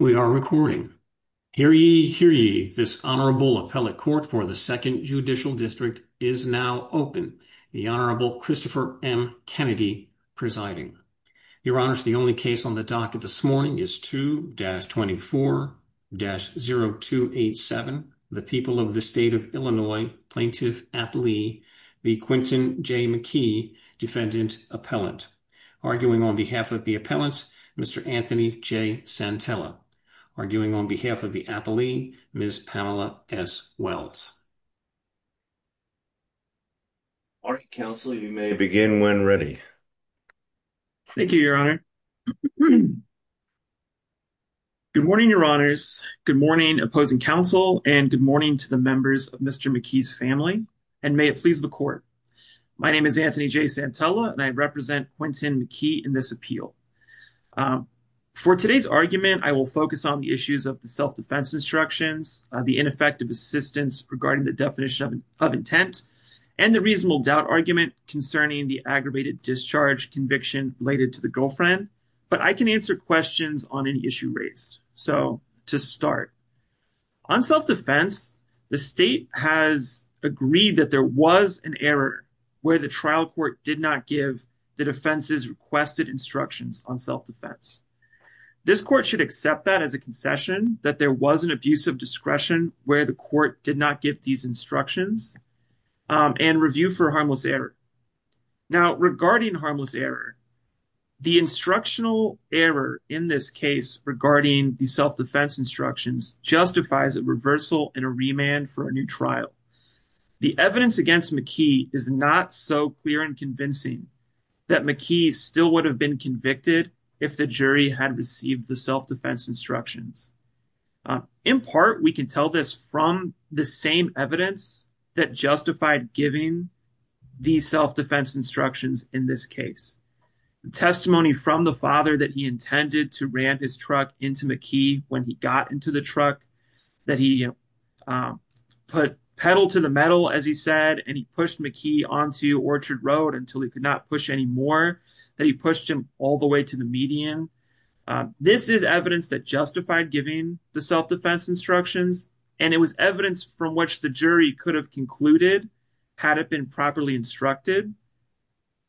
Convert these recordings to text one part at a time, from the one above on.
We are recording. Hear ye, hear ye, this Honorable Appellate Court for the Second Judicial District is now open. The Honorable Christopher M. Kennedy presiding. Your Honors, the only case on the docket this morning is 2-24-0287, the People of the State of Illinois Plaintiff Appellee, the Quinton J. McKee Defendant Appellant. Arguing on behalf of the Appellant, Mr. Anthony J. Santella. Arguing on behalf of the Appellee, Ms. Pamela S. Wells. All right, Counsel, you may begin when ready. Thank you, Your Honor. Good morning, Your Honors. Good morning, opposing counsel, and good morning to the members of Mr. McKee's family, and may it please the Court. My name is Anthony J. Santella, and I represent Quinton McKee in this appeal. For today's argument, I will focus on the issues of the self-defense instructions, the ineffective assistance regarding the definition of intent, and the reasonable doubt argument concerning the aggravated discharge conviction related to the girlfriend, but I can answer questions on any issue raised. So, to start, on self-defense, the state has agreed that there was an error where the trial court did not give the defense's requested instructions on self-defense. This court should accept that as a concession, that there was an abuse of discretion where the court did not give these instructions, and review for harmless error. Now, regarding harmless error, the instructional error in this case regarding the self-defense instructions justifies a reversal and a remand for a new trial. The evidence against McKee is not so clear and convincing that McKee still would have been convicted if the jury had received the self-defense instructions. In part, we can tell this from the same evidence that justified giving the self-defense instructions in this case. The testimony from the father that he intended to ran his truck into McKee when he got into the truck, that he put pedal to the metal, as he said, and he pushed McKee onto Orchard Road until he could not push any more, that he pushed him all the way to the median. This is evidence that justified giving the self-defense instructions, and it was evidence from which the jury could have concluded, had it been properly instructed,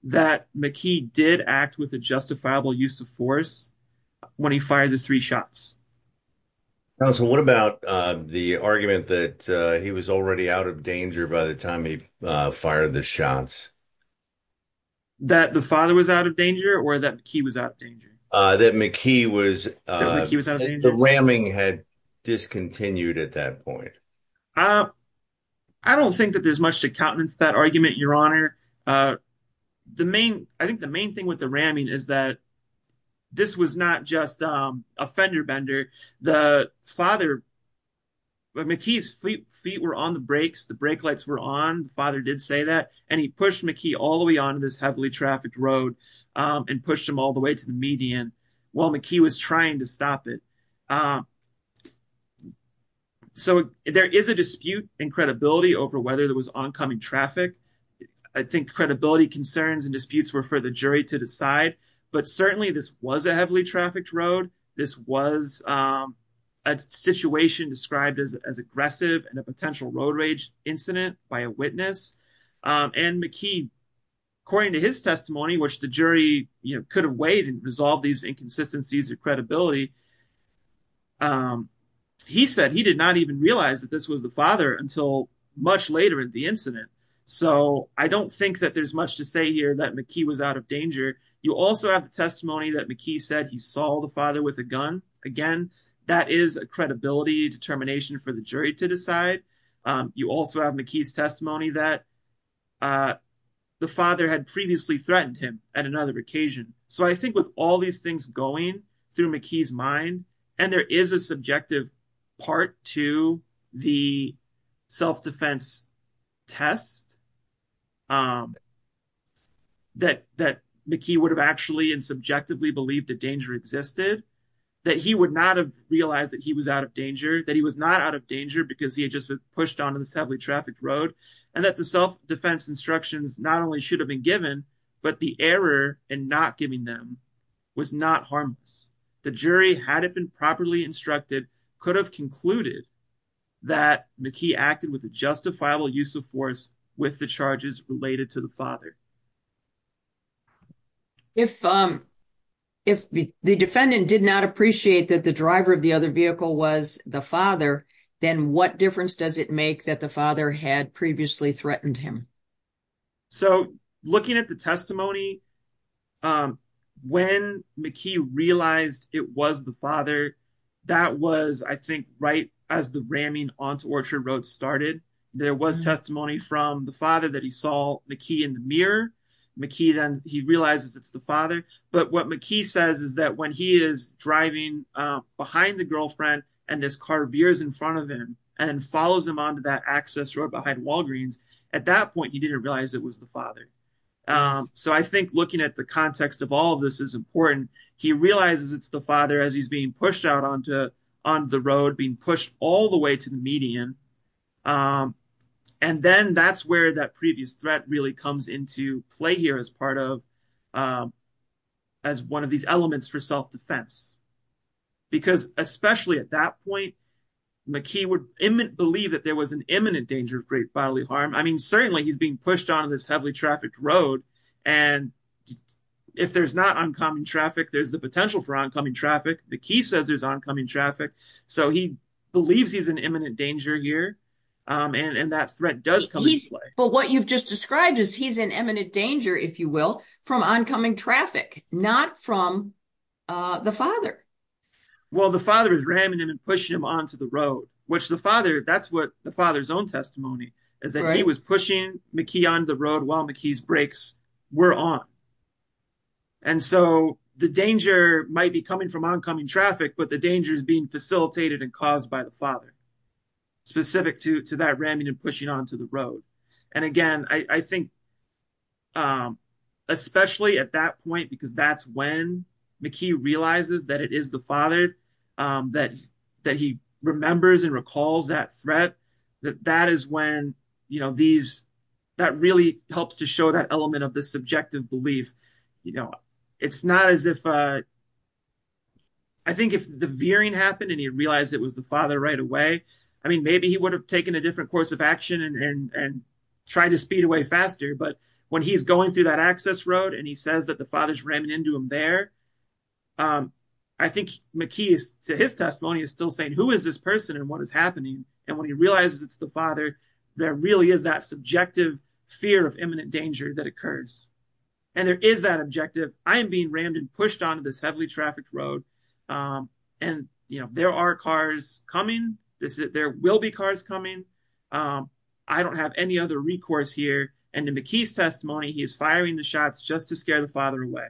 that McKee did act with a justifiable use of force when he fired the three shots. Counsel, what about the argument that he was already out of danger by the time he fired the shots? That the father was out of danger, or that McKee was out of danger? That McKee was, the ramming had discontinued at that point. I don't think that there's much to countenance that argument, Your Honor. I think the main thing with the ramming is that this was not just a fender bender. The father, McKee's feet were on the brakes, the brake lights were on, the father did say that, and he pushed McKee all the way onto this heavily trafficked road and pushed him all the way to the median while McKee was trying to stop it. So there is a dispute in credibility over whether there was oncoming traffic. I think credibility concerns and disputes were for the jury to decide, but certainly this was a heavily trafficked road. This was a situation described as aggressive and a potential road rage incident by a witness, and McKee, according to his testimony, which the jury could have weighed and resolved these inconsistencies of credibility, he said he did not even realize that this was the father until much later in the incident. So I don't think that there's much to say here that McKee was out of danger. You also have the testimony that McKee said he saw the father with a gun. Again, that is a credibility determination for the jury to decide. You also have McKee's testimony that the father had previously threatened him at another occasion. So I think with all these things going through McKee's mind, and there is a subjective part to the self-defense test, that McKee would have actually and subjectively believed that danger existed, that he would not have realized that he was out of danger, that he was not out of danger because he had just been pushed onto this heavily trafficked road, and that the self-defense instructions not only should have been given, but the error in not giving them was not harmless. The jury, had it been properly instructed, could have concluded that McKee acted with a justifiable use of force with the charges related to the father. If the defendant did not appreciate that the driver of the other vehicle was the father, then what difference does it make that the father had previously threatened him? So looking at the testimony, when McKee realized it was the father, that was, I think, right as the ramming onto Orchard Road started. There was testimony from the father that he saw McKee in the mirror. McKee then, he realizes it's the father, but what McKee says is that when he is driving behind the girlfriend and this car veers in front of him and follows him onto that access road behind Walgreens, at that point he didn't realize it was the father. So I think looking at the context of all of this is important. He realizes it's the father as he's being pushed out onto the road, being pushed all the way to the median, and then that's where that previous threat really comes into play here as part of, as one of these elements for self-defense. Because especially at that point, McKee would believe that there was an imminent danger of great bodily harm. I mean, certainly he's being pushed on this heavily trafficked road, and if there's not oncoming traffic, there's the potential for oncoming traffic. McKee says there's oncoming traffic, so he believes he's in imminent danger here, and that threat does come into play. But what you've just described is he's in imminent danger, if you will, from oncoming traffic, not from the father. Well, the father is ramming him and pushing him onto the road, which the father, that's what the father's own testimony is, that he was pushing McKee onto the road while McKee's brakes were on. And so the danger might be coming from oncoming traffic, but the danger is being facilitated and caused by the father, specific to that ramming and pushing onto the road. And again, I think especially at that point, because that's when McKee realizes that it is the father, that he remembers and recalls that threat, that really helps to show that element of the subjective belief. I think if the veering happened and he realized it was the father right I mean, maybe he would have taken a different course of action and tried to speed away faster, but when he's going through that access road and he says that the father's ramming into him there, I think McKee, to his testimony, is still saying, who is this person and what is happening? And when he realizes it's the father, there really is that subjective fear of imminent danger that occurs. And there is that objective, I am being rammed and pushed onto this heavily there will be cars coming. I don't have any other recourse here. And in McKee's testimony, he is firing the shots just to scare the father away.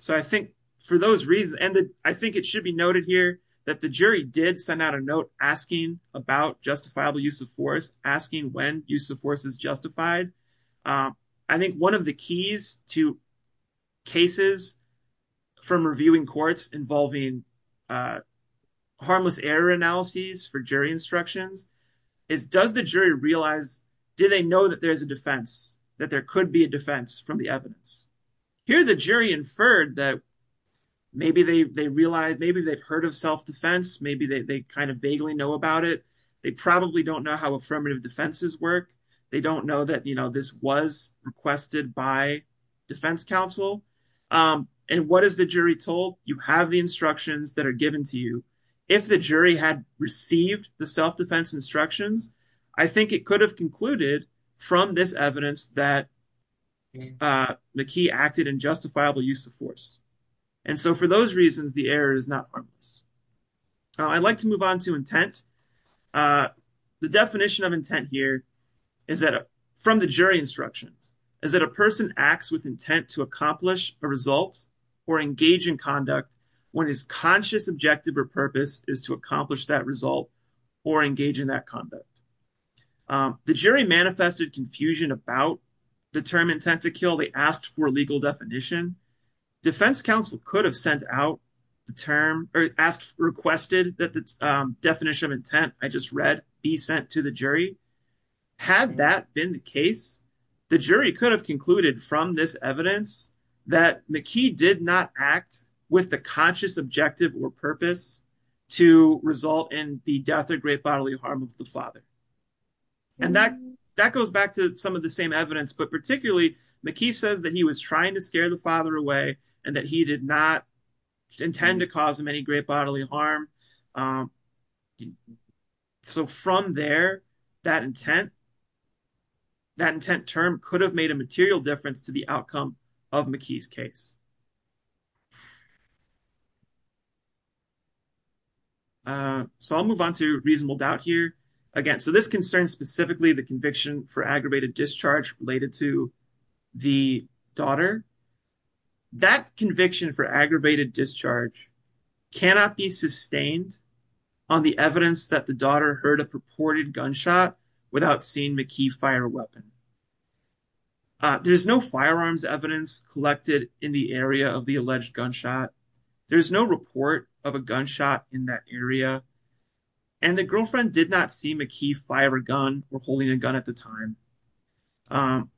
So I think for those reasons, and I think it should be noted here that the jury did send out a note asking about justifiable use of force, asking when use of force is justified. I think one of the keys to cases from reviewing courts involving harmless error analyses for jury instructions is does the jury realize, do they know that there's a defense, that there could be a defense from the evidence? Here, the jury inferred that maybe they realized, maybe they've heard of self-defense, maybe they kind of vaguely know about it. They probably don't know how affirmative defenses work. They don't know that this was requested by defense counsel. And what is the jury told? You have the instructions that are given to you. If the jury had received the self-defense instructions, I think it could have concluded from this evidence that McKee acted in justifiable use of force. And so for those reasons, the error is not harmless. I'd like to move on to intent. The definition of intent here is that from the jury instructions is that a person acts with intent to accomplish a result or engage in conduct when his conscious objective or purpose is to accomplish that result or engage in that conduct. The jury manifested confusion about the term intent to kill. They asked for a legal definition. Defense counsel could have sent out the term or asked, requested that the definition of intent I just read be sent to the jury. Had that been the case, the jury could have concluded from this evidence that McKee did not act with the conscious objective or purpose to result in the death or great bodily harm of the father. And that goes back to some of the same evidence, but particularly McKee says that he was trying to scare the father away and that he did not intend to cause him any great bodily harm. Um, so from there, that intent, that intent term could have made a material difference to the outcome of McKee's case. Uh, so I'll move on to reasonable doubt here again. So this concerns specifically the conviction for aggravated discharge related to the daughter. That on the evidence that the daughter heard a purported gunshot without seeing McKee fire a weapon. Uh, there's no firearms evidence collected in the area of the alleged gunshot. There's no report of a gunshot in that area. And the girlfriend did not see McKee fire a gun or holding a gun at the time. Um,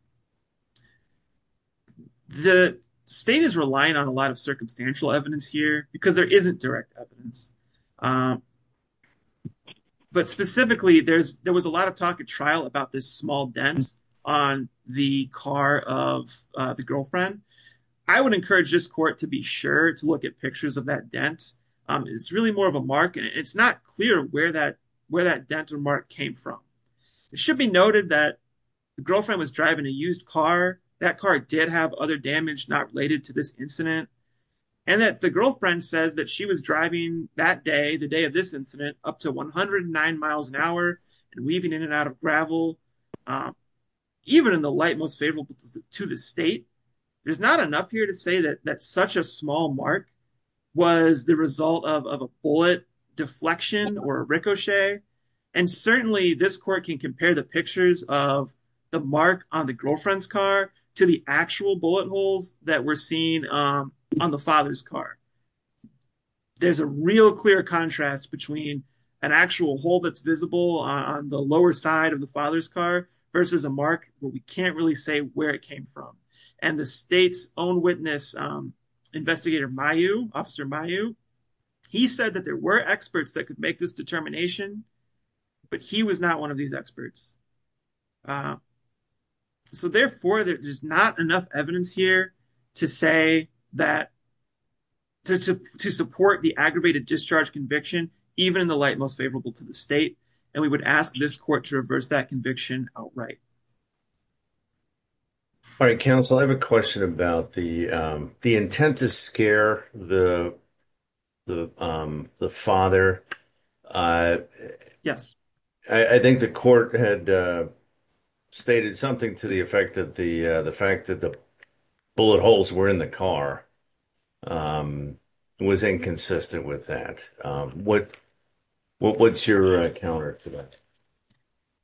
the state is relying on a lot of circumstantial evidence here because there isn't direct evidence. Um, but specifically there's, there was a lot of talk at trial about this small dense on the car of the girlfriend. I would encourage this court to be sure to look at pictures of that dent. Um, it's really more of a mark and it's not clear where that, where that dental mark came from. It should be noted that the girlfriend was driving a used car. That car did have other damage not related to this incident and that the girlfriend says that she was driving that day, the day of this incident up to 109 miles an hour and weaving in and out of gravel. Um, even in the light most favorable to the state, there's not enough here to say that that's such a small mark was the result of, of a bullet deflection or ricochet. And to the actual bullet holes that we're seeing, um, on the father's car, there's a real clear contrast between an actual hole that's visible on the lower side of the father's car versus a mark where we can't really say where it came from. And the state's own witness, um, investigator, my you officer, my you, he said that there were experts that could this determination, but he was not one of these experts. Uh, so therefore there's not enough evidence here to say that to, to, to support the aggravated discharge conviction, even in the light most favorable to the state. And we would ask this court to reverse that conviction outright. All right. Counsel, I have a question about the, um, the intent to scare the, the, um, the father, uh, I think the court had, uh, stated something to the effect of the, uh, the fact that the bullet holes were in the car, um, was inconsistent with that. Um, what, what's your counter to that?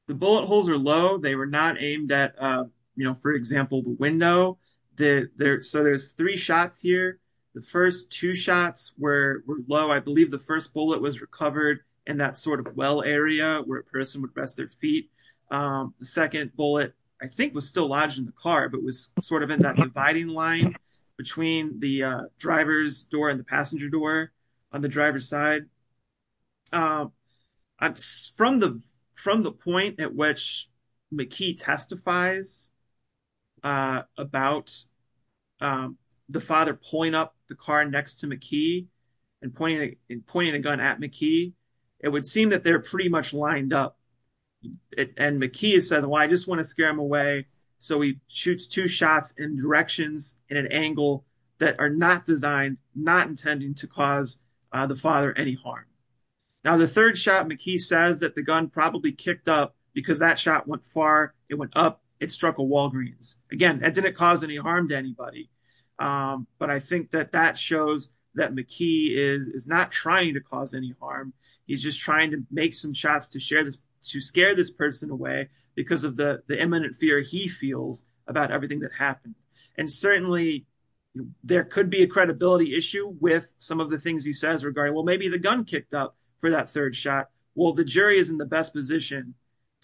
The bullet holes are low. They were not aimed at, uh, you know, for example, the window that there, so there's three shots here. The first two shots were low. I believe the first bullet was recovered in that sort of well area where a person would rest their feet. Um, the second bullet I think was still lodged in the car, but it was sort of in that dividing line between the, uh, driver's door and the passenger door on the driver's side. Um, I'm from the, from the point at which McKee testifies, uh, about, um, the father pulling up the car next to McKee and pointing and pointing a gun at McKee, it would seem that they're pretty much lined up and McKee has said, well, I just want to scare him away. So he shoots two shots in directions in an angle that are not designed, not intending to cause the father any harm. Now, the third shot McKee says that the gun probably kicked up because that shot went far. It went up. It struck a Walgreens again. That didn't cause any harm to anybody. Um, but I think that that shows that McKee is not trying to cause any harm. He's just trying to make some shots to share this, to scare this person away because of the imminent fear he feels about everything that happened. And certainly there could be a credibility issue with some of the things he says regarding, well, maybe the gun kicked up for that third shot. Well, the jury is in the best position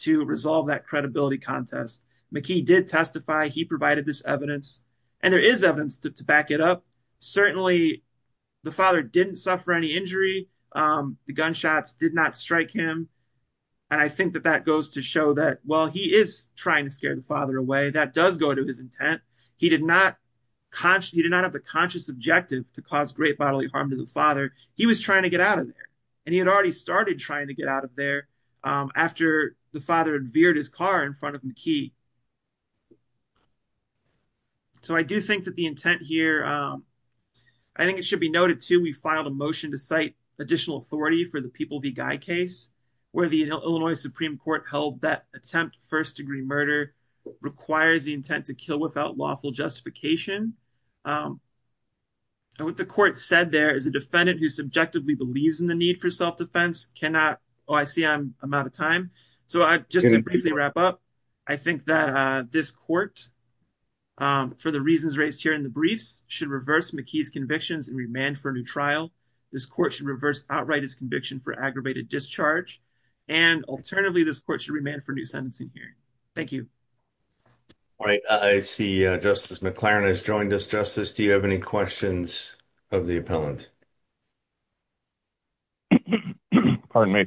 to resolve that credibility contest. McKee did testify. He provided this evidence and there is evidence to back it up. Certainly the father didn't suffer any injury. Um, the gunshots did not strike him. And I think that that goes to show that while he is trying to scare the father away, that does go to his intent. He did not consciously, he did not have the conscious objective to cause great bodily harm to the father. He was trying to get out of there and he had already started trying to get out of there, um, after the father had veered his car in front of McKee. So I do think that the intent here, um, I think it should be noted too, we filed a motion to cite additional authority for the People v. Guy case where the Illinois Supreme Court held that first-degree murder requires the intent to kill without lawful justification. And what the court said there is a defendant who subjectively believes in the need for self-defense cannot, oh, I see I'm out of time. So just to briefly wrap up, I think that, uh, this court, for the reasons raised here in the briefs, should reverse McKee's convictions and remand for a new trial. This court should reverse outright his conviction for aggravated discharge. And alternatively, this court should remand for a new sentencing hearing. Thank you. All right, I see Justice McLaren has joined us. Justice, do you have any questions of the appellant? Pardon me.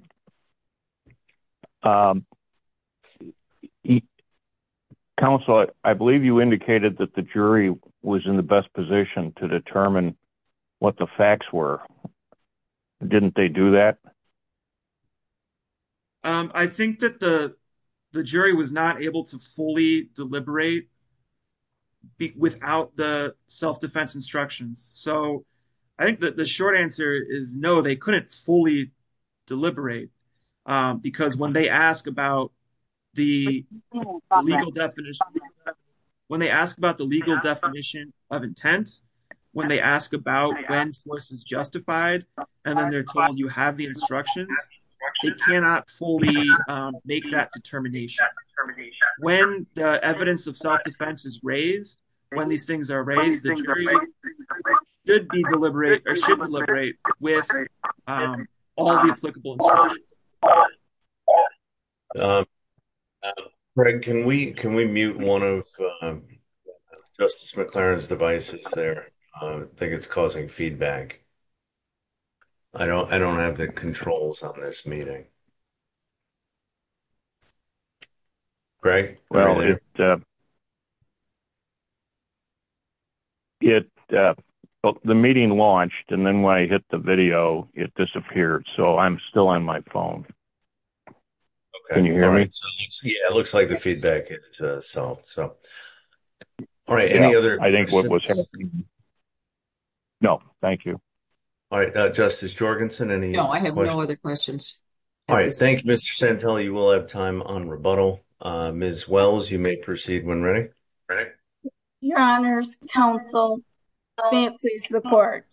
Counsel, I believe you indicated that the jury was in the best position to determine what the facts were. Didn't they do that? Um, I think that the, the jury was not able to fully deliberate without the self-defense instructions. So I think that the short answer is no, they couldn't fully deliberate. Um, because when they ask about the legal definition, when they ask about the legal definition of intent, when they ask about when force is justified, and then they're told you have the instructions, they cannot fully, um, make that determination. When the evidence of self-defense is raised, when these things are raised, the jury should be deliberate or should deliberate with, um, all the applicable instructions. Um, Greg, can we, can we mute one of, um, Justice McLaren's devices there? Um, I think it's causing feedback. I don't, I don't have the controls on this meeting. Greg? Well, it, uh, it, uh, the meeting launched, and then when I hit the video, it disappeared. So I'm still on my phone. Can you hear me? Yeah, it looks like the feedback itself. So, all right. Any other, I think what was no, thank you. All right. Uh, Justice Jorgensen, any, no, I have no other questions. All right. Thank you, Mr. Santella. You will have time on rebuttal. Um, as well as you may proceed when ready. Greg? Your honors, counsel, may it please the court.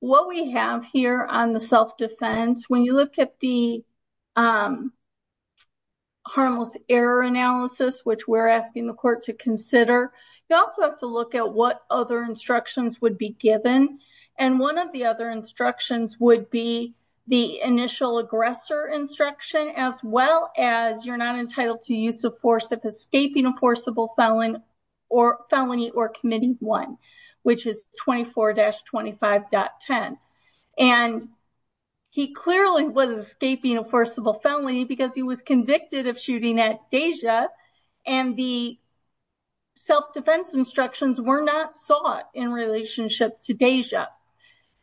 What we have here on the self-defense, when you look at the, um, harmless error analysis, which we're asking the court to consider, you also have to look at what other instructions would be given. And one of the other instructions would be the initial aggressor instruction, as well as you're not entitled to use of force of escaping a forcible felon or felony or committee one, which is 24-25.10. And he clearly was escaping a forcible felony because he was convicted of shooting at Deja, and the self-defense instructions were not sought in relationship to Deja.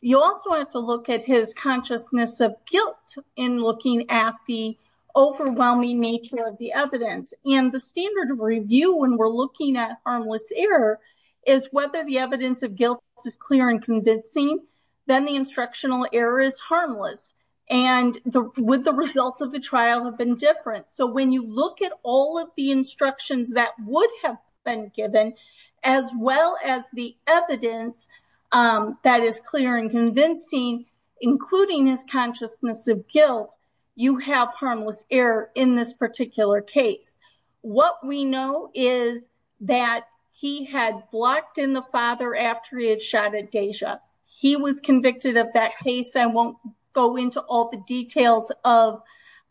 You also have to look at his consciousness of guilt in looking at the overwhelming nature of the evidence. And the standard review, when we're looking at harmless error, is whether the evidence of guilt is clear and convincing, then the instructional error is harmless. And would the result of the trial have been different? So when you look at all of the instructions that would have been given, as well as the evidence that is clear and convincing, including his consciousness of guilt, you have harmless error in this particular case. What we know is that he had blocked in the father after he had shot at Deja. He was convicted of that case. I won't go into all the details of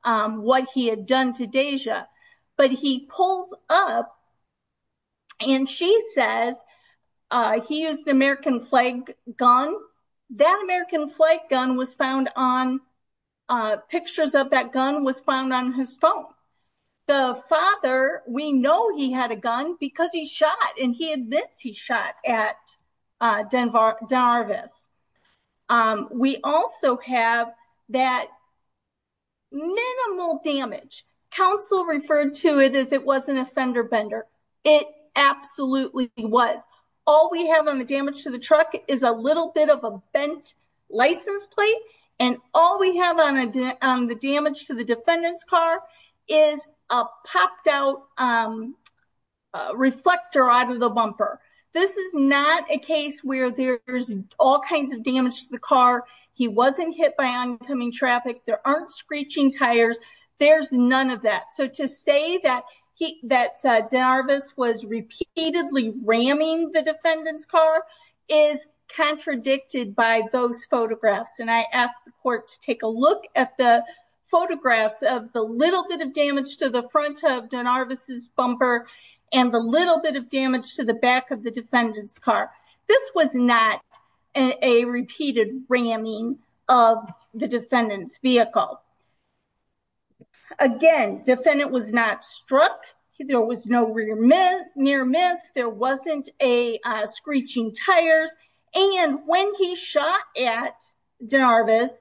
what he had done to Deja, but he pulls up and she says he used an American flag gun. That American flag gun was found on, pictures of that gun was found on his phone. The father, we know he had a gun because he shot, and he admits he shot at Darvis. We also have that minimal damage. Counsel referred to it as it wasn't a fender bender. It absolutely was. All we have on the damage to the truck is a little bit of a bent license plate. And all we have on the damage to the defendant's car is a popped out um, reflector out of the bumper. This is not a case where there's all kinds of damage to the car. He wasn't hit by oncoming traffic. There aren't screeching tires. There's none of that. So to say that he, that Darvis was repeatedly ramming the defendant's car is contradicted by those photographs. And I asked the court to take a look at the photographs of the little bit of damage to the front of Darvis's bumper and the little bit of damage to the back of the defendant's car. This was not a repeated ramming of the defendant's vehicle. Again, defendant was not struck. There was no rear miss, near miss. There wasn't a screeching tires. And when he shot at Darvis,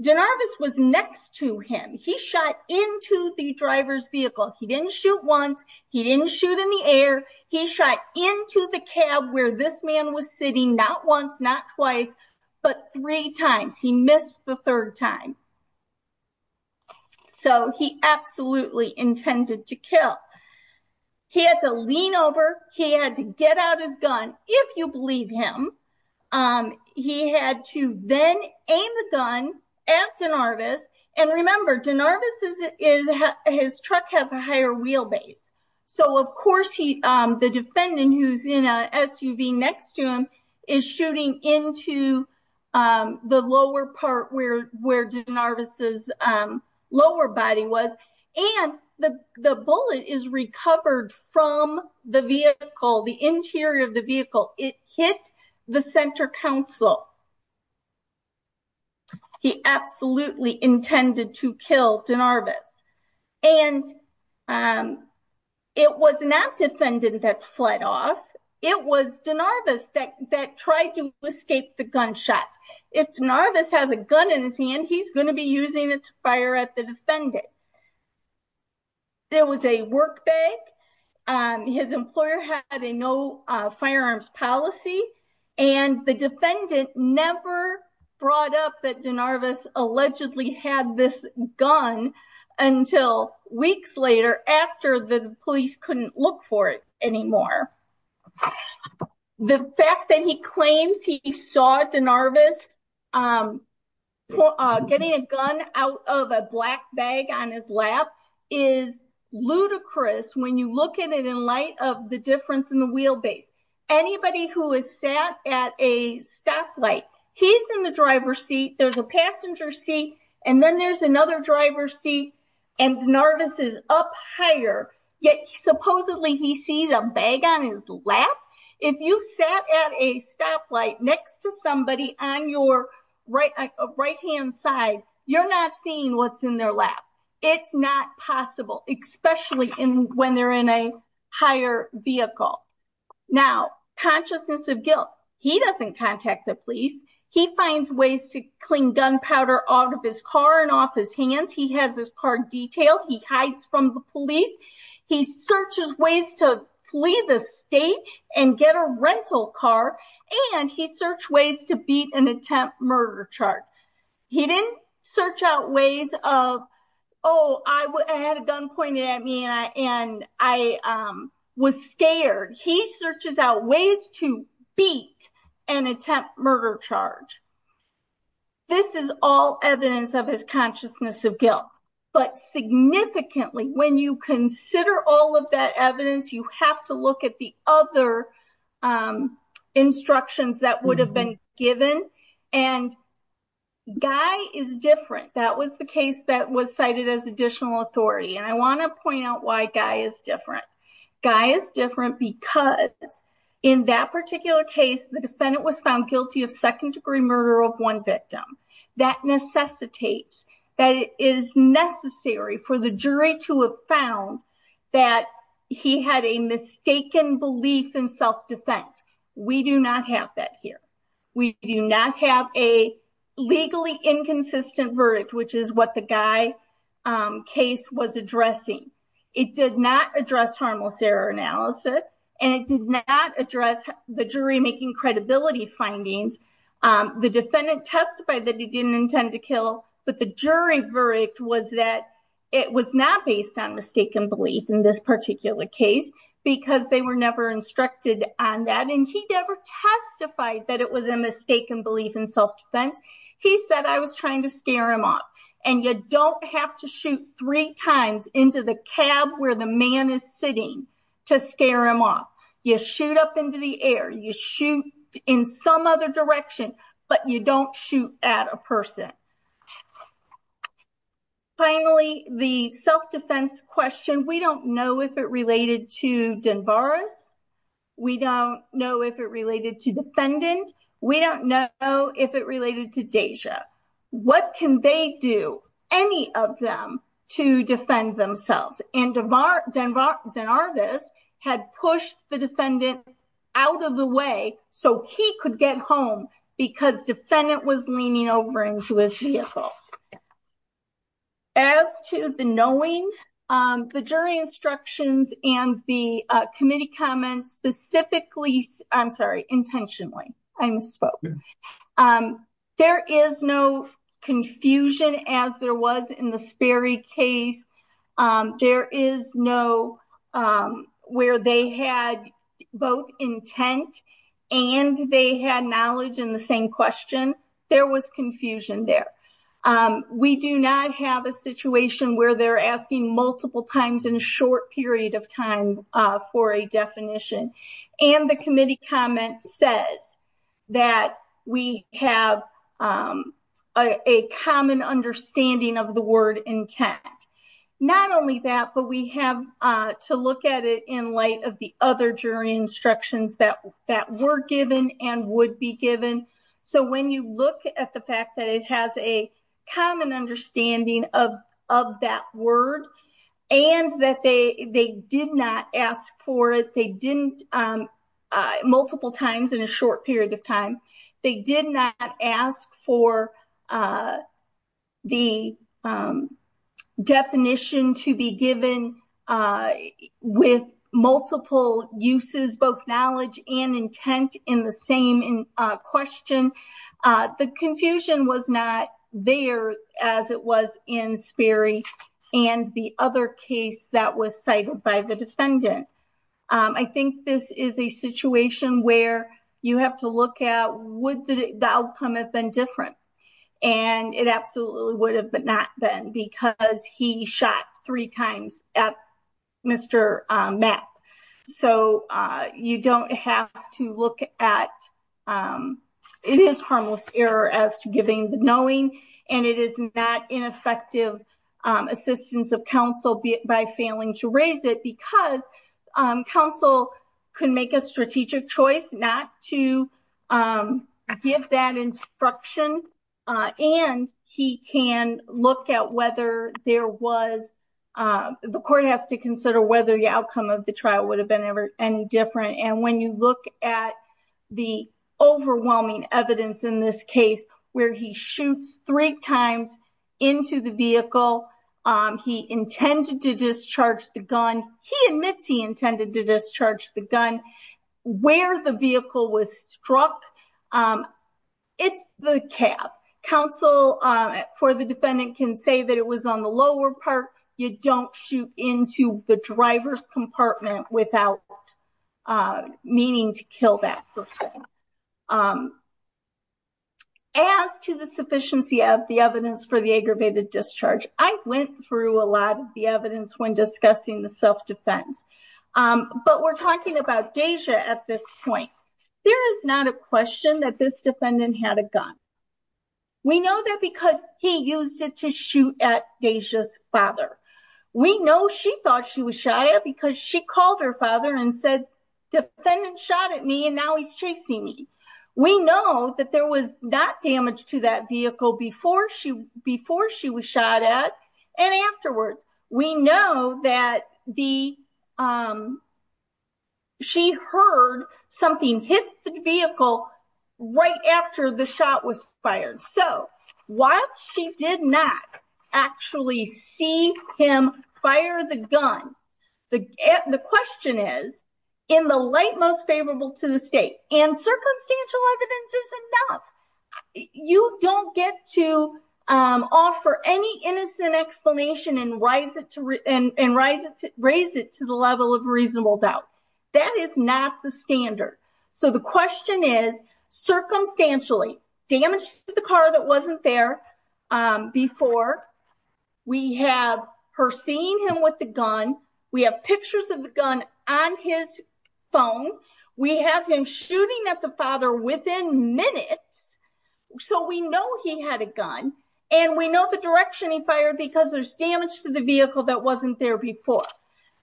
Darvis was next to him. He shot into the driver's vehicle. He didn't shoot once. He didn't shoot in the air. He shot into the cab where this man was sitting, not once, not twice, but three times. He missed the third time. So he absolutely intended to kill. He had to lean over. He had to get out his gun, if you believe him. He had to then aim the gun at Darvis. And remember, his truck has a higher wheelbase. So of course, the defendant who's in a SUV next to him is shooting into the lower part where Darvis's lower body was. And the bullet is recovered from the vehicle, the interior of the vehicle. It hit the center console. He absolutely intended to kill Darvis. And it was not defendant that fled off. It was Darvis that tried to escape the gunshot. If Darvis has a gun in his hand, he's going to be using it to fire at the defendant. There was a work bag. His employer had a no firearms policy. And the defendant never brought up that Darvis allegedly had this gun until weeks later after the police couldn't look for it is ludicrous when you look at it in light of the difference in the wheelbase. Anybody who has sat at a stoplight, he's in the driver's seat, there's a passenger seat, and then there's another driver's seat. And Darvis is up higher, yet supposedly he sees a bag on his lap. If you sat at a stoplight next to somebody on your right hand side, you're not seeing what's in their lap. It's not possible, especially when they're in a higher vehicle. Now, consciousness of guilt. He doesn't contact the police. He finds ways to clean gunpowder out of his car and off his hands. He has his car detailed. He hides from the police. He searches ways to flee the state and get a rental car. And he searched ways to beat an attempt murder charge. He didn't search out ways of, oh, I had a gun pointed at me and I was scared. He searches out ways to beat an attempt murder charge. This is all evidence of his consciousness of guilt. But significantly, when you consider all of that evidence, you have to look at the other instructions that would have been given. And Guy is different. That was the case that was cited as additional authority. And I want to point out why Guy is different. Guy is different because in that particular case, the defendant was found guilty of second degree murder of one victim. That necessitates that it is necessary for the jury to have found that he had a mistaken belief in self-defense. We do not have that here. We do not have a legally inconsistent verdict, which is what the Guy case was addressing. It did not address harmless error analysis. And it did not address the jury making credibility findings. The defendant testified that he didn't intend to kill, but the jury verdict was that it was not based on mistaken belief in this particular case because they were never instructed on that. And he never testified that it was a mistaken belief in self-defense. He said, I was trying to scare him off. And you don't have to shoot three times into the cab where the man is sitting to scare him off. You shoot up into the air. You shoot in some other direction, but you don't shoot at a person. Finally, the self-defense question, we don't know if it related to Denvaris. We don't know if it related to defendant. We don't know if it related to Deja. What can they do, any of them, to defend themselves? And Denarvis had pushed the defendant out of the way so he could get home because defendant was leaning over into his vehicle. As to the knowing, the jury instructions and the committee comments specifically, I'm sorry, intentionally, I misspoke. There is no confusion as there was in the Sperry case. There is no where they had both intent and they had knowledge in the same question. There was confusion there. We do not have a situation where they're asking multiple times in a short period of time for a definition. And the committee comment says that we have a common understanding of the word intent. Not only that, but we have to look at it in light of the other jury instructions that were given and would be given. So when you look at the fact that it has a common understanding of that word and that they did not ask for it, they didn't multiple times in a short period of time. They did not ask for the definition to be given with multiple uses, both knowledge and intent in the same question. The confusion was not there as it was in Sperry and the other case that was cited by the defendant. I think this is a situation where you have to look at would the outcome have been different? And it absolutely would have not been because he shot three times at Mr. Mapp. So you don't have to look at, it is harmless error as to giving the knowing and it is not ineffective assistance of counsel by failing to raise it because counsel can make a strategic choice not to give that instruction. And he can look at whether there was, the court has to consider whether the outcome of the trial would have been any different. And when you look at the overwhelming evidence in this case where he shoots three times into the vehicle, he intended to discharge the gun. He admits he intended to discharge the gun where the vehicle was struck. It's the cab. Counsel for the defendant can say that it was on the lower part. You don't shoot into the driver's compartment without meaning to kill that person. As to the sufficiency of the evidence for the aggravated discharge, I went through a lot of the evidence when discussing the self-defense. But we're talking about Deja at this point. There is not a question that this defendant had a gun. We know that because he used it to shoot at Deja's father. We know she thought she was shot at because she called her father and said, defendant shot at me and now he's chasing me. We know that there was not damage to that vehicle before she was shot at and afterwards. We know that the, um, she heard something hit the vehicle right after the shot was fired. So, while she did not actually see him fire the gun, the question is, in the light most favorable to the state and circumstantial evidence is enough, you don't get to offer any innocent explanation and raise it to the level of reasonable doubt. That is not the standard. So, the question is, circumstantially, damage to the car that wasn't there before. We have her seeing him with the gun. We have pictures of the gun on his phone. We have him shooting at the father within minutes. So, we know he had a gun and we know the direction he fired because there's damage to the vehicle that wasn't there before.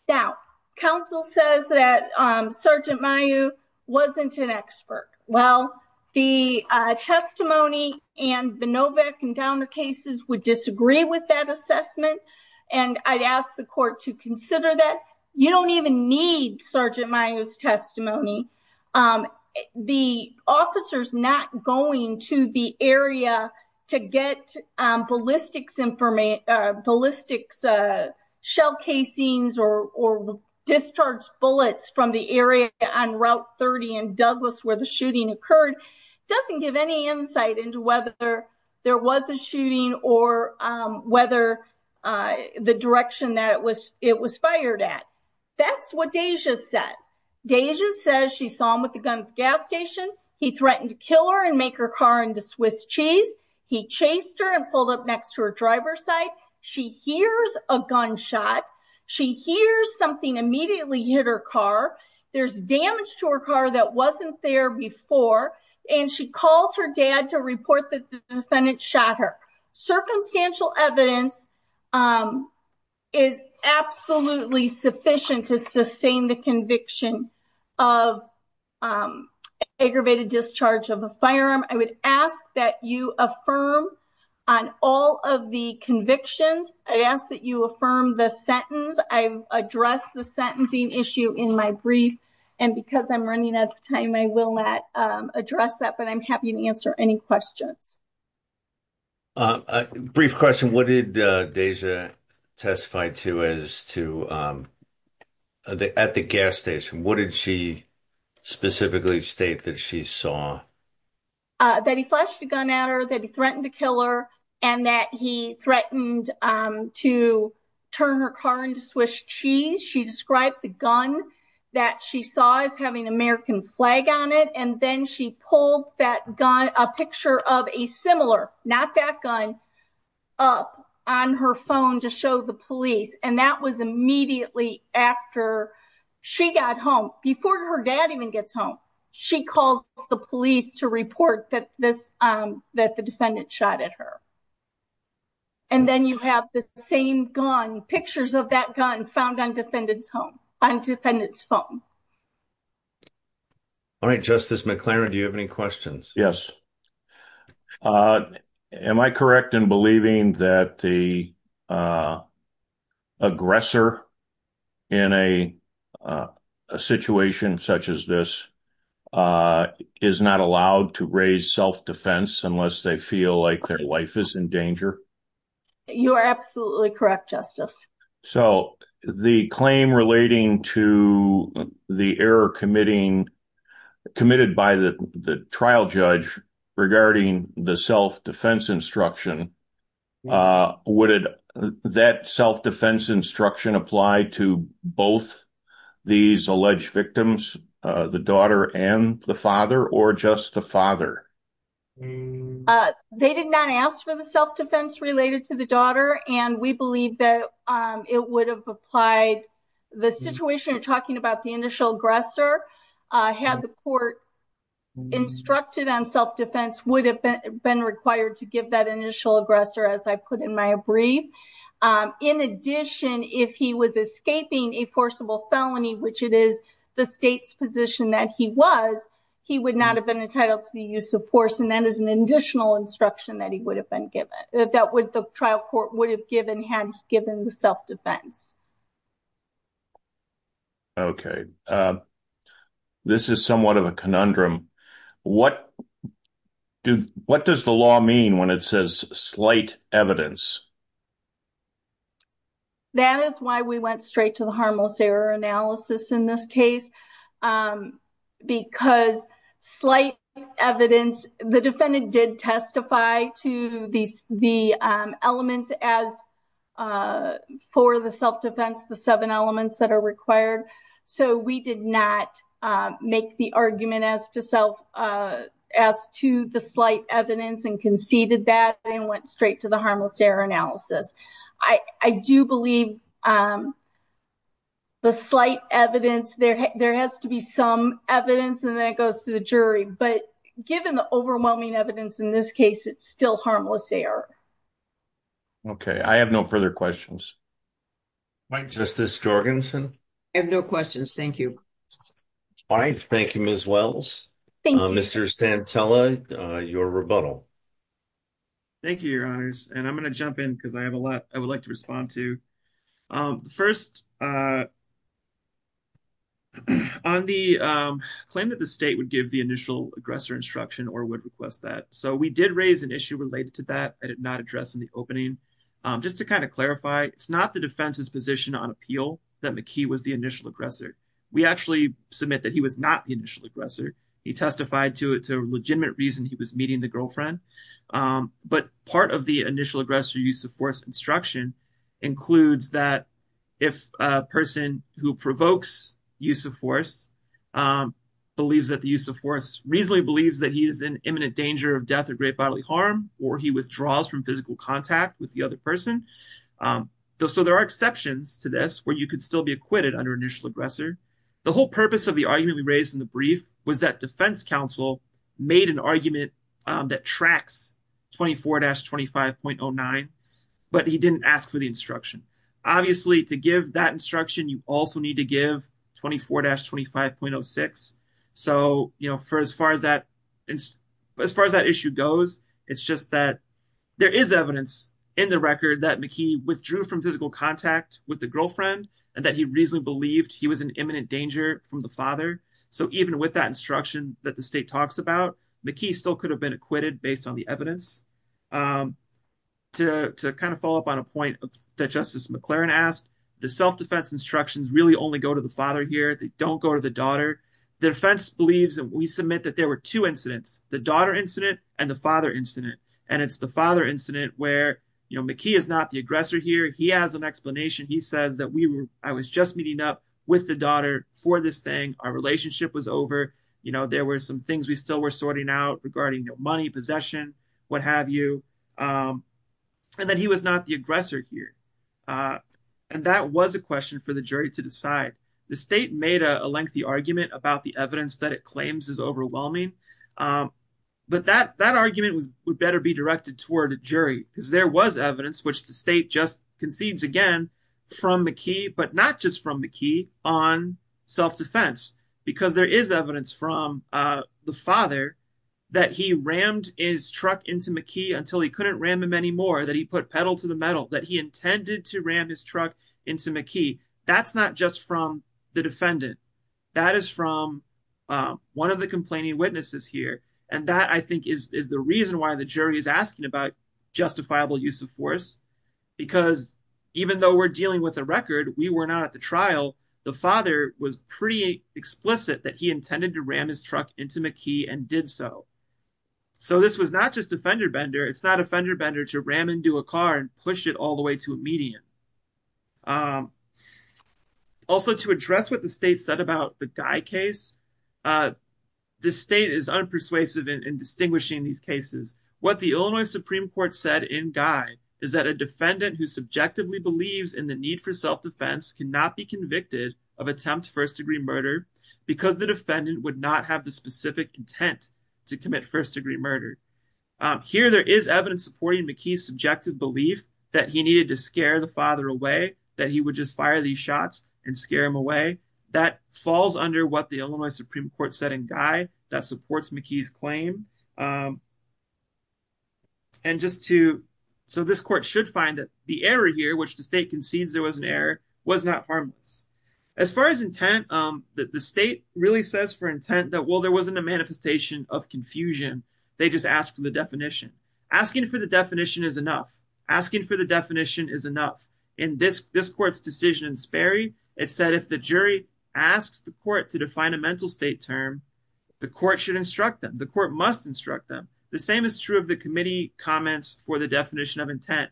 Now, counsel says that, um, Sergeant Mayu wasn't an expert. Well, the testimony and the Novak and Downer cases would disagree with that assessment and I'd ask the court to consider that. You don't even need Sergeant Mayu's testimony. Um, the officers not going to the area to get, um, ballistics information, uh, ballistics, uh, shell casings or, or discharged bullets from the area on Route 30 in Douglas where the shooting occurred doesn't give any insight into whether there was a shooting or, um, whether, uh, the it was, it was fired at. That's what Deja says. Deja says she saw him with the gun at the gas station. He threatened to kill her and make her car into Swiss cheese. He chased her and pulled up next to her driver's side. She hears a gunshot. She hears something immediately hit her car. There's damage to her car that wasn't there before and she calls her dad to report that the defendant shot her. Circumstantial evidence, um, is absolutely sufficient to sustain the conviction of, um, aggravated discharge of a firearm. I would ask that you affirm on all of the convictions. I'd ask that you affirm the sentence. I've addressed the sentencing issue in my brief and because I'm running out of time, I will not, um, address that, but I'm happy to answer any questions. A brief question. What did Deja testify to as to, um, at the gas station? What did she specifically state that she saw? That he flashed a gun at her, that he threatened to kill her and that he threatened, um, to turn her car into Swiss cheese. She described the gun that she saw as having American flag on it and then she pulled that gun, a picture of a similar, not that gun, up on her phone to show the police and that was immediately after she got home, before her dad even gets home. She calls the police to report that this, um, that the defendant shot at her. And then you have the same gun, pictures of that gun found on defendant's home, on defendant's phone. All right, Justice McLaren, do you have any questions? Yes. Uh, am I correct in believing that the, uh, aggressor in a, uh, a situation such as this, uh, is not allowed to raise self-defense unless they feel like their wife is in danger? You are absolutely correct, Justice. So the claim relating to the error committing, committed by the, the trial judge regarding the self-defense instruction, uh, would it, that self-defense instruction apply to both these alleged victims, uh, the daughter and the father or just the father? Uh, they did not ask for the self-defense related to the daughter and we believe that, um, it would have applied. The situation you're talking about, the initial aggressor, uh, had the court instructed on self-defense would have been required to give that initial aggressor, as I put in my brief. Um, in addition, if he was escaping a forcible felony, which it is the state's position that he was, he would not have been entitled to the use of force and that is an additional instruction that he would have been given, that would, the trial court would have given had given the self-defense. Okay, uh, this is somewhat of a conundrum. What do, what does the law mean when it says slight evidence? That is why we went straight to the harmless error analysis in this case, um, because slight evidence, the defendant did testify to these, the, um, elements as, uh, for the self-defense, the seven elements that are required. So we did not, um, make the argument as to self, uh, as to slight evidence and conceded that and went straight to the harmless error analysis. I, I do believe, um, the slight evidence there, there has to be some evidence and then it goes to the jury, but given the overwhelming evidence in this case, it's still harmless error. Okay, I have no further questions. All right, Justice Jorgensen. I have no questions. Thank you. All right. Thank you, Ms. Wells. Mr. Santella, uh, your rebuttal. Thank you, your honors. And I'm going to jump in because I have a lot I would like to respond to. Um, the first, uh, on the, um, claim that the state would give the initial aggressor instruction or would request that. So we did raise an issue related to that. I did not address in the opening, um, just to kind of clarify, it's not the defense's position on appeal that McKee was initial aggressor. We actually submit that he was not the initial aggressor. He testified to it to legitimate reason he was meeting the girlfriend. Um, but part of the initial aggressor use of force instruction includes that if a person who provokes use of force, um, believes that the use of force reasonably believes that he is in imminent danger of death or great bodily harm, or he withdraws from physical contact with the other person. Um, so there are exceptions to this where you could be acquitted under initial aggressor. The whole purpose of the argument we raised in the brief was that defense counsel made an argument, um, that tracks 24-25.09, but he didn't ask for the instruction. Obviously to give that instruction, you also need to give 24-25.06. So, you know, for as far as that, as far as that issue goes, it's just that there is evidence in the record that McKee withdrew from physical contact with the girlfriend and that he reasonably believed he was in imminent danger from the father. So even with that instruction that the state talks about, McKee still could have been acquitted based on the evidence. Um, to kind of follow up on a point that Justice McLaren asked, the self-defense instructions really only go to the father here. They don't go to the daughter. The defense believes that we submit that there were two incidents, the daughter incident and the father incident. And it's the father incident where, you know, he was not the aggressor here. He has an explanation. He says that we were, I was just meeting up with the daughter for this thing. Our relationship was over. You know, there were some things we still were sorting out regarding, you know, money, possession, what have you. Um, and that he was not the aggressor here. Uh, and that was a question for the jury to decide. The state made a lengthy argument about the evidence that it claims is overwhelming. Um, but that, that would better be directed toward a jury because there was evidence, which the state just concedes again from McKee, but not just from McKee on self-defense, because there is evidence from, uh, the father that he rammed his truck into McKee until he couldn't ram him anymore, that he put pedal to the metal, that he intended to ram his truck into McKee. That's not just from the defendant. That is from, um, one of the complaining witnesses here. And that I think is, is the reason why the jury is asking about justifiable use of force, because even though we're dealing with a record, we were not at the trial, the father was pretty explicit that he intended to ram his truck into McKee and did so. So this was not just a fender bender. It's not a fender bender to ram into a car and push it all the way to a median. Um, also to address what the state said about the Guy case, uh, the state is unpersuasive in distinguishing these cases. What the Illinois Supreme Court said in Guy is that a defendant who subjectively believes in the need for self-defense cannot be convicted of attempt first degree murder because the defendant would not have the specific intent to commit first degree murder. Um, here there is evidence supporting McKee's subjective belief that he needed to scare the father away, that he would just fire these shots and scare him away. That falls under what the Illinois Supreme Court said in Guy that supports McKee's claim. And just to, so this court should find that the error here, which the state concedes there was an error, was not harmless. As far as intent, um, the state really says for intent that, well, there wasn't a manifestation of confusion. They just asked for the definition. Asking for the definition is enough. Asking for the definition is enough. In this, this court's decision in Sperry, it said if the jury asks the court to define a mental state term, the court should instruct them. The court must instruct them. The same is true of the committee comments for the definition of intent.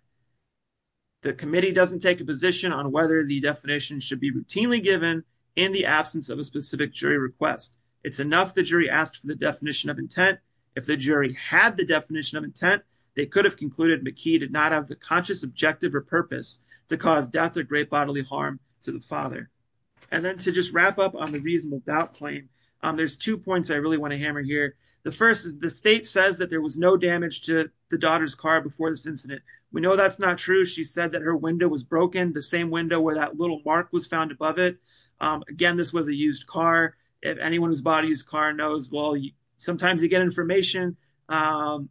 The committee doesn't take a position on whether the definition should be routinely given in the absence of a specific jury request. It's enough the jury asked for the definition of intent. If the jury had the definition of intent, they could have concluded McKee did not have the conscious objective or purpose to cause death or great bodily harm to the father. And then to just wrap up on the reasonable doubt claim, um, there's two points I really want to hammer here. The first is the state says that there was no damage to the daughter's car before this incident. We know that's not true. She said that her window was broken, the same window where that little mark was found above it. Um, again, this was a used car. If anyone who's bought a used car knows, well, sometimes you get information, um,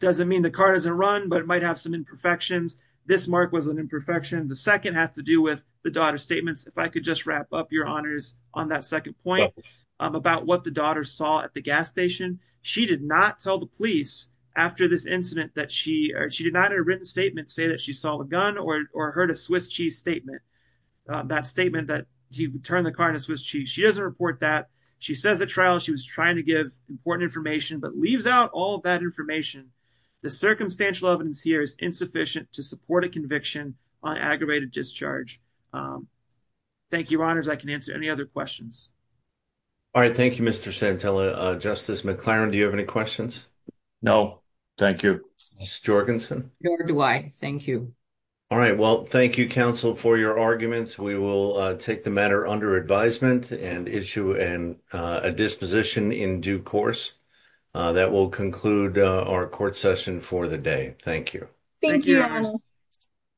doesn't mean the car doesn't run, but it might have some imperfections. This mark was an imperfection. The second has to do with the daughter's statements. If I could just wrap up your honors on that second point, um, about what the daughter saw at the gas station, she did not tell the police after this incident that she, or she did not have a written statement say that she saw a gun or, or heard a Swiss cheese statement, uh, that statement that he turned the car in a Swiss cheese. She doesn't report that. She says at trial, she was trying to give important information, but leaves out all that information. The circumstantial evidence here is insufficient to support a conviction on aggravated discharge. Um, thank you honors. I can answer any other questions. All right. Thank you, Mr. Santella. Uh, Justice McLaren, do you have any questions? No, thank you. Ms. Jorgensen? Nor do I. Thank you. All right. Well, thank you, counsel, for your arguments. We will, uh, take the matter under advisement and issue an, uh, a disposition in due course, uh, that will conclude, uh, our court session for the day. Thank you. Thank you.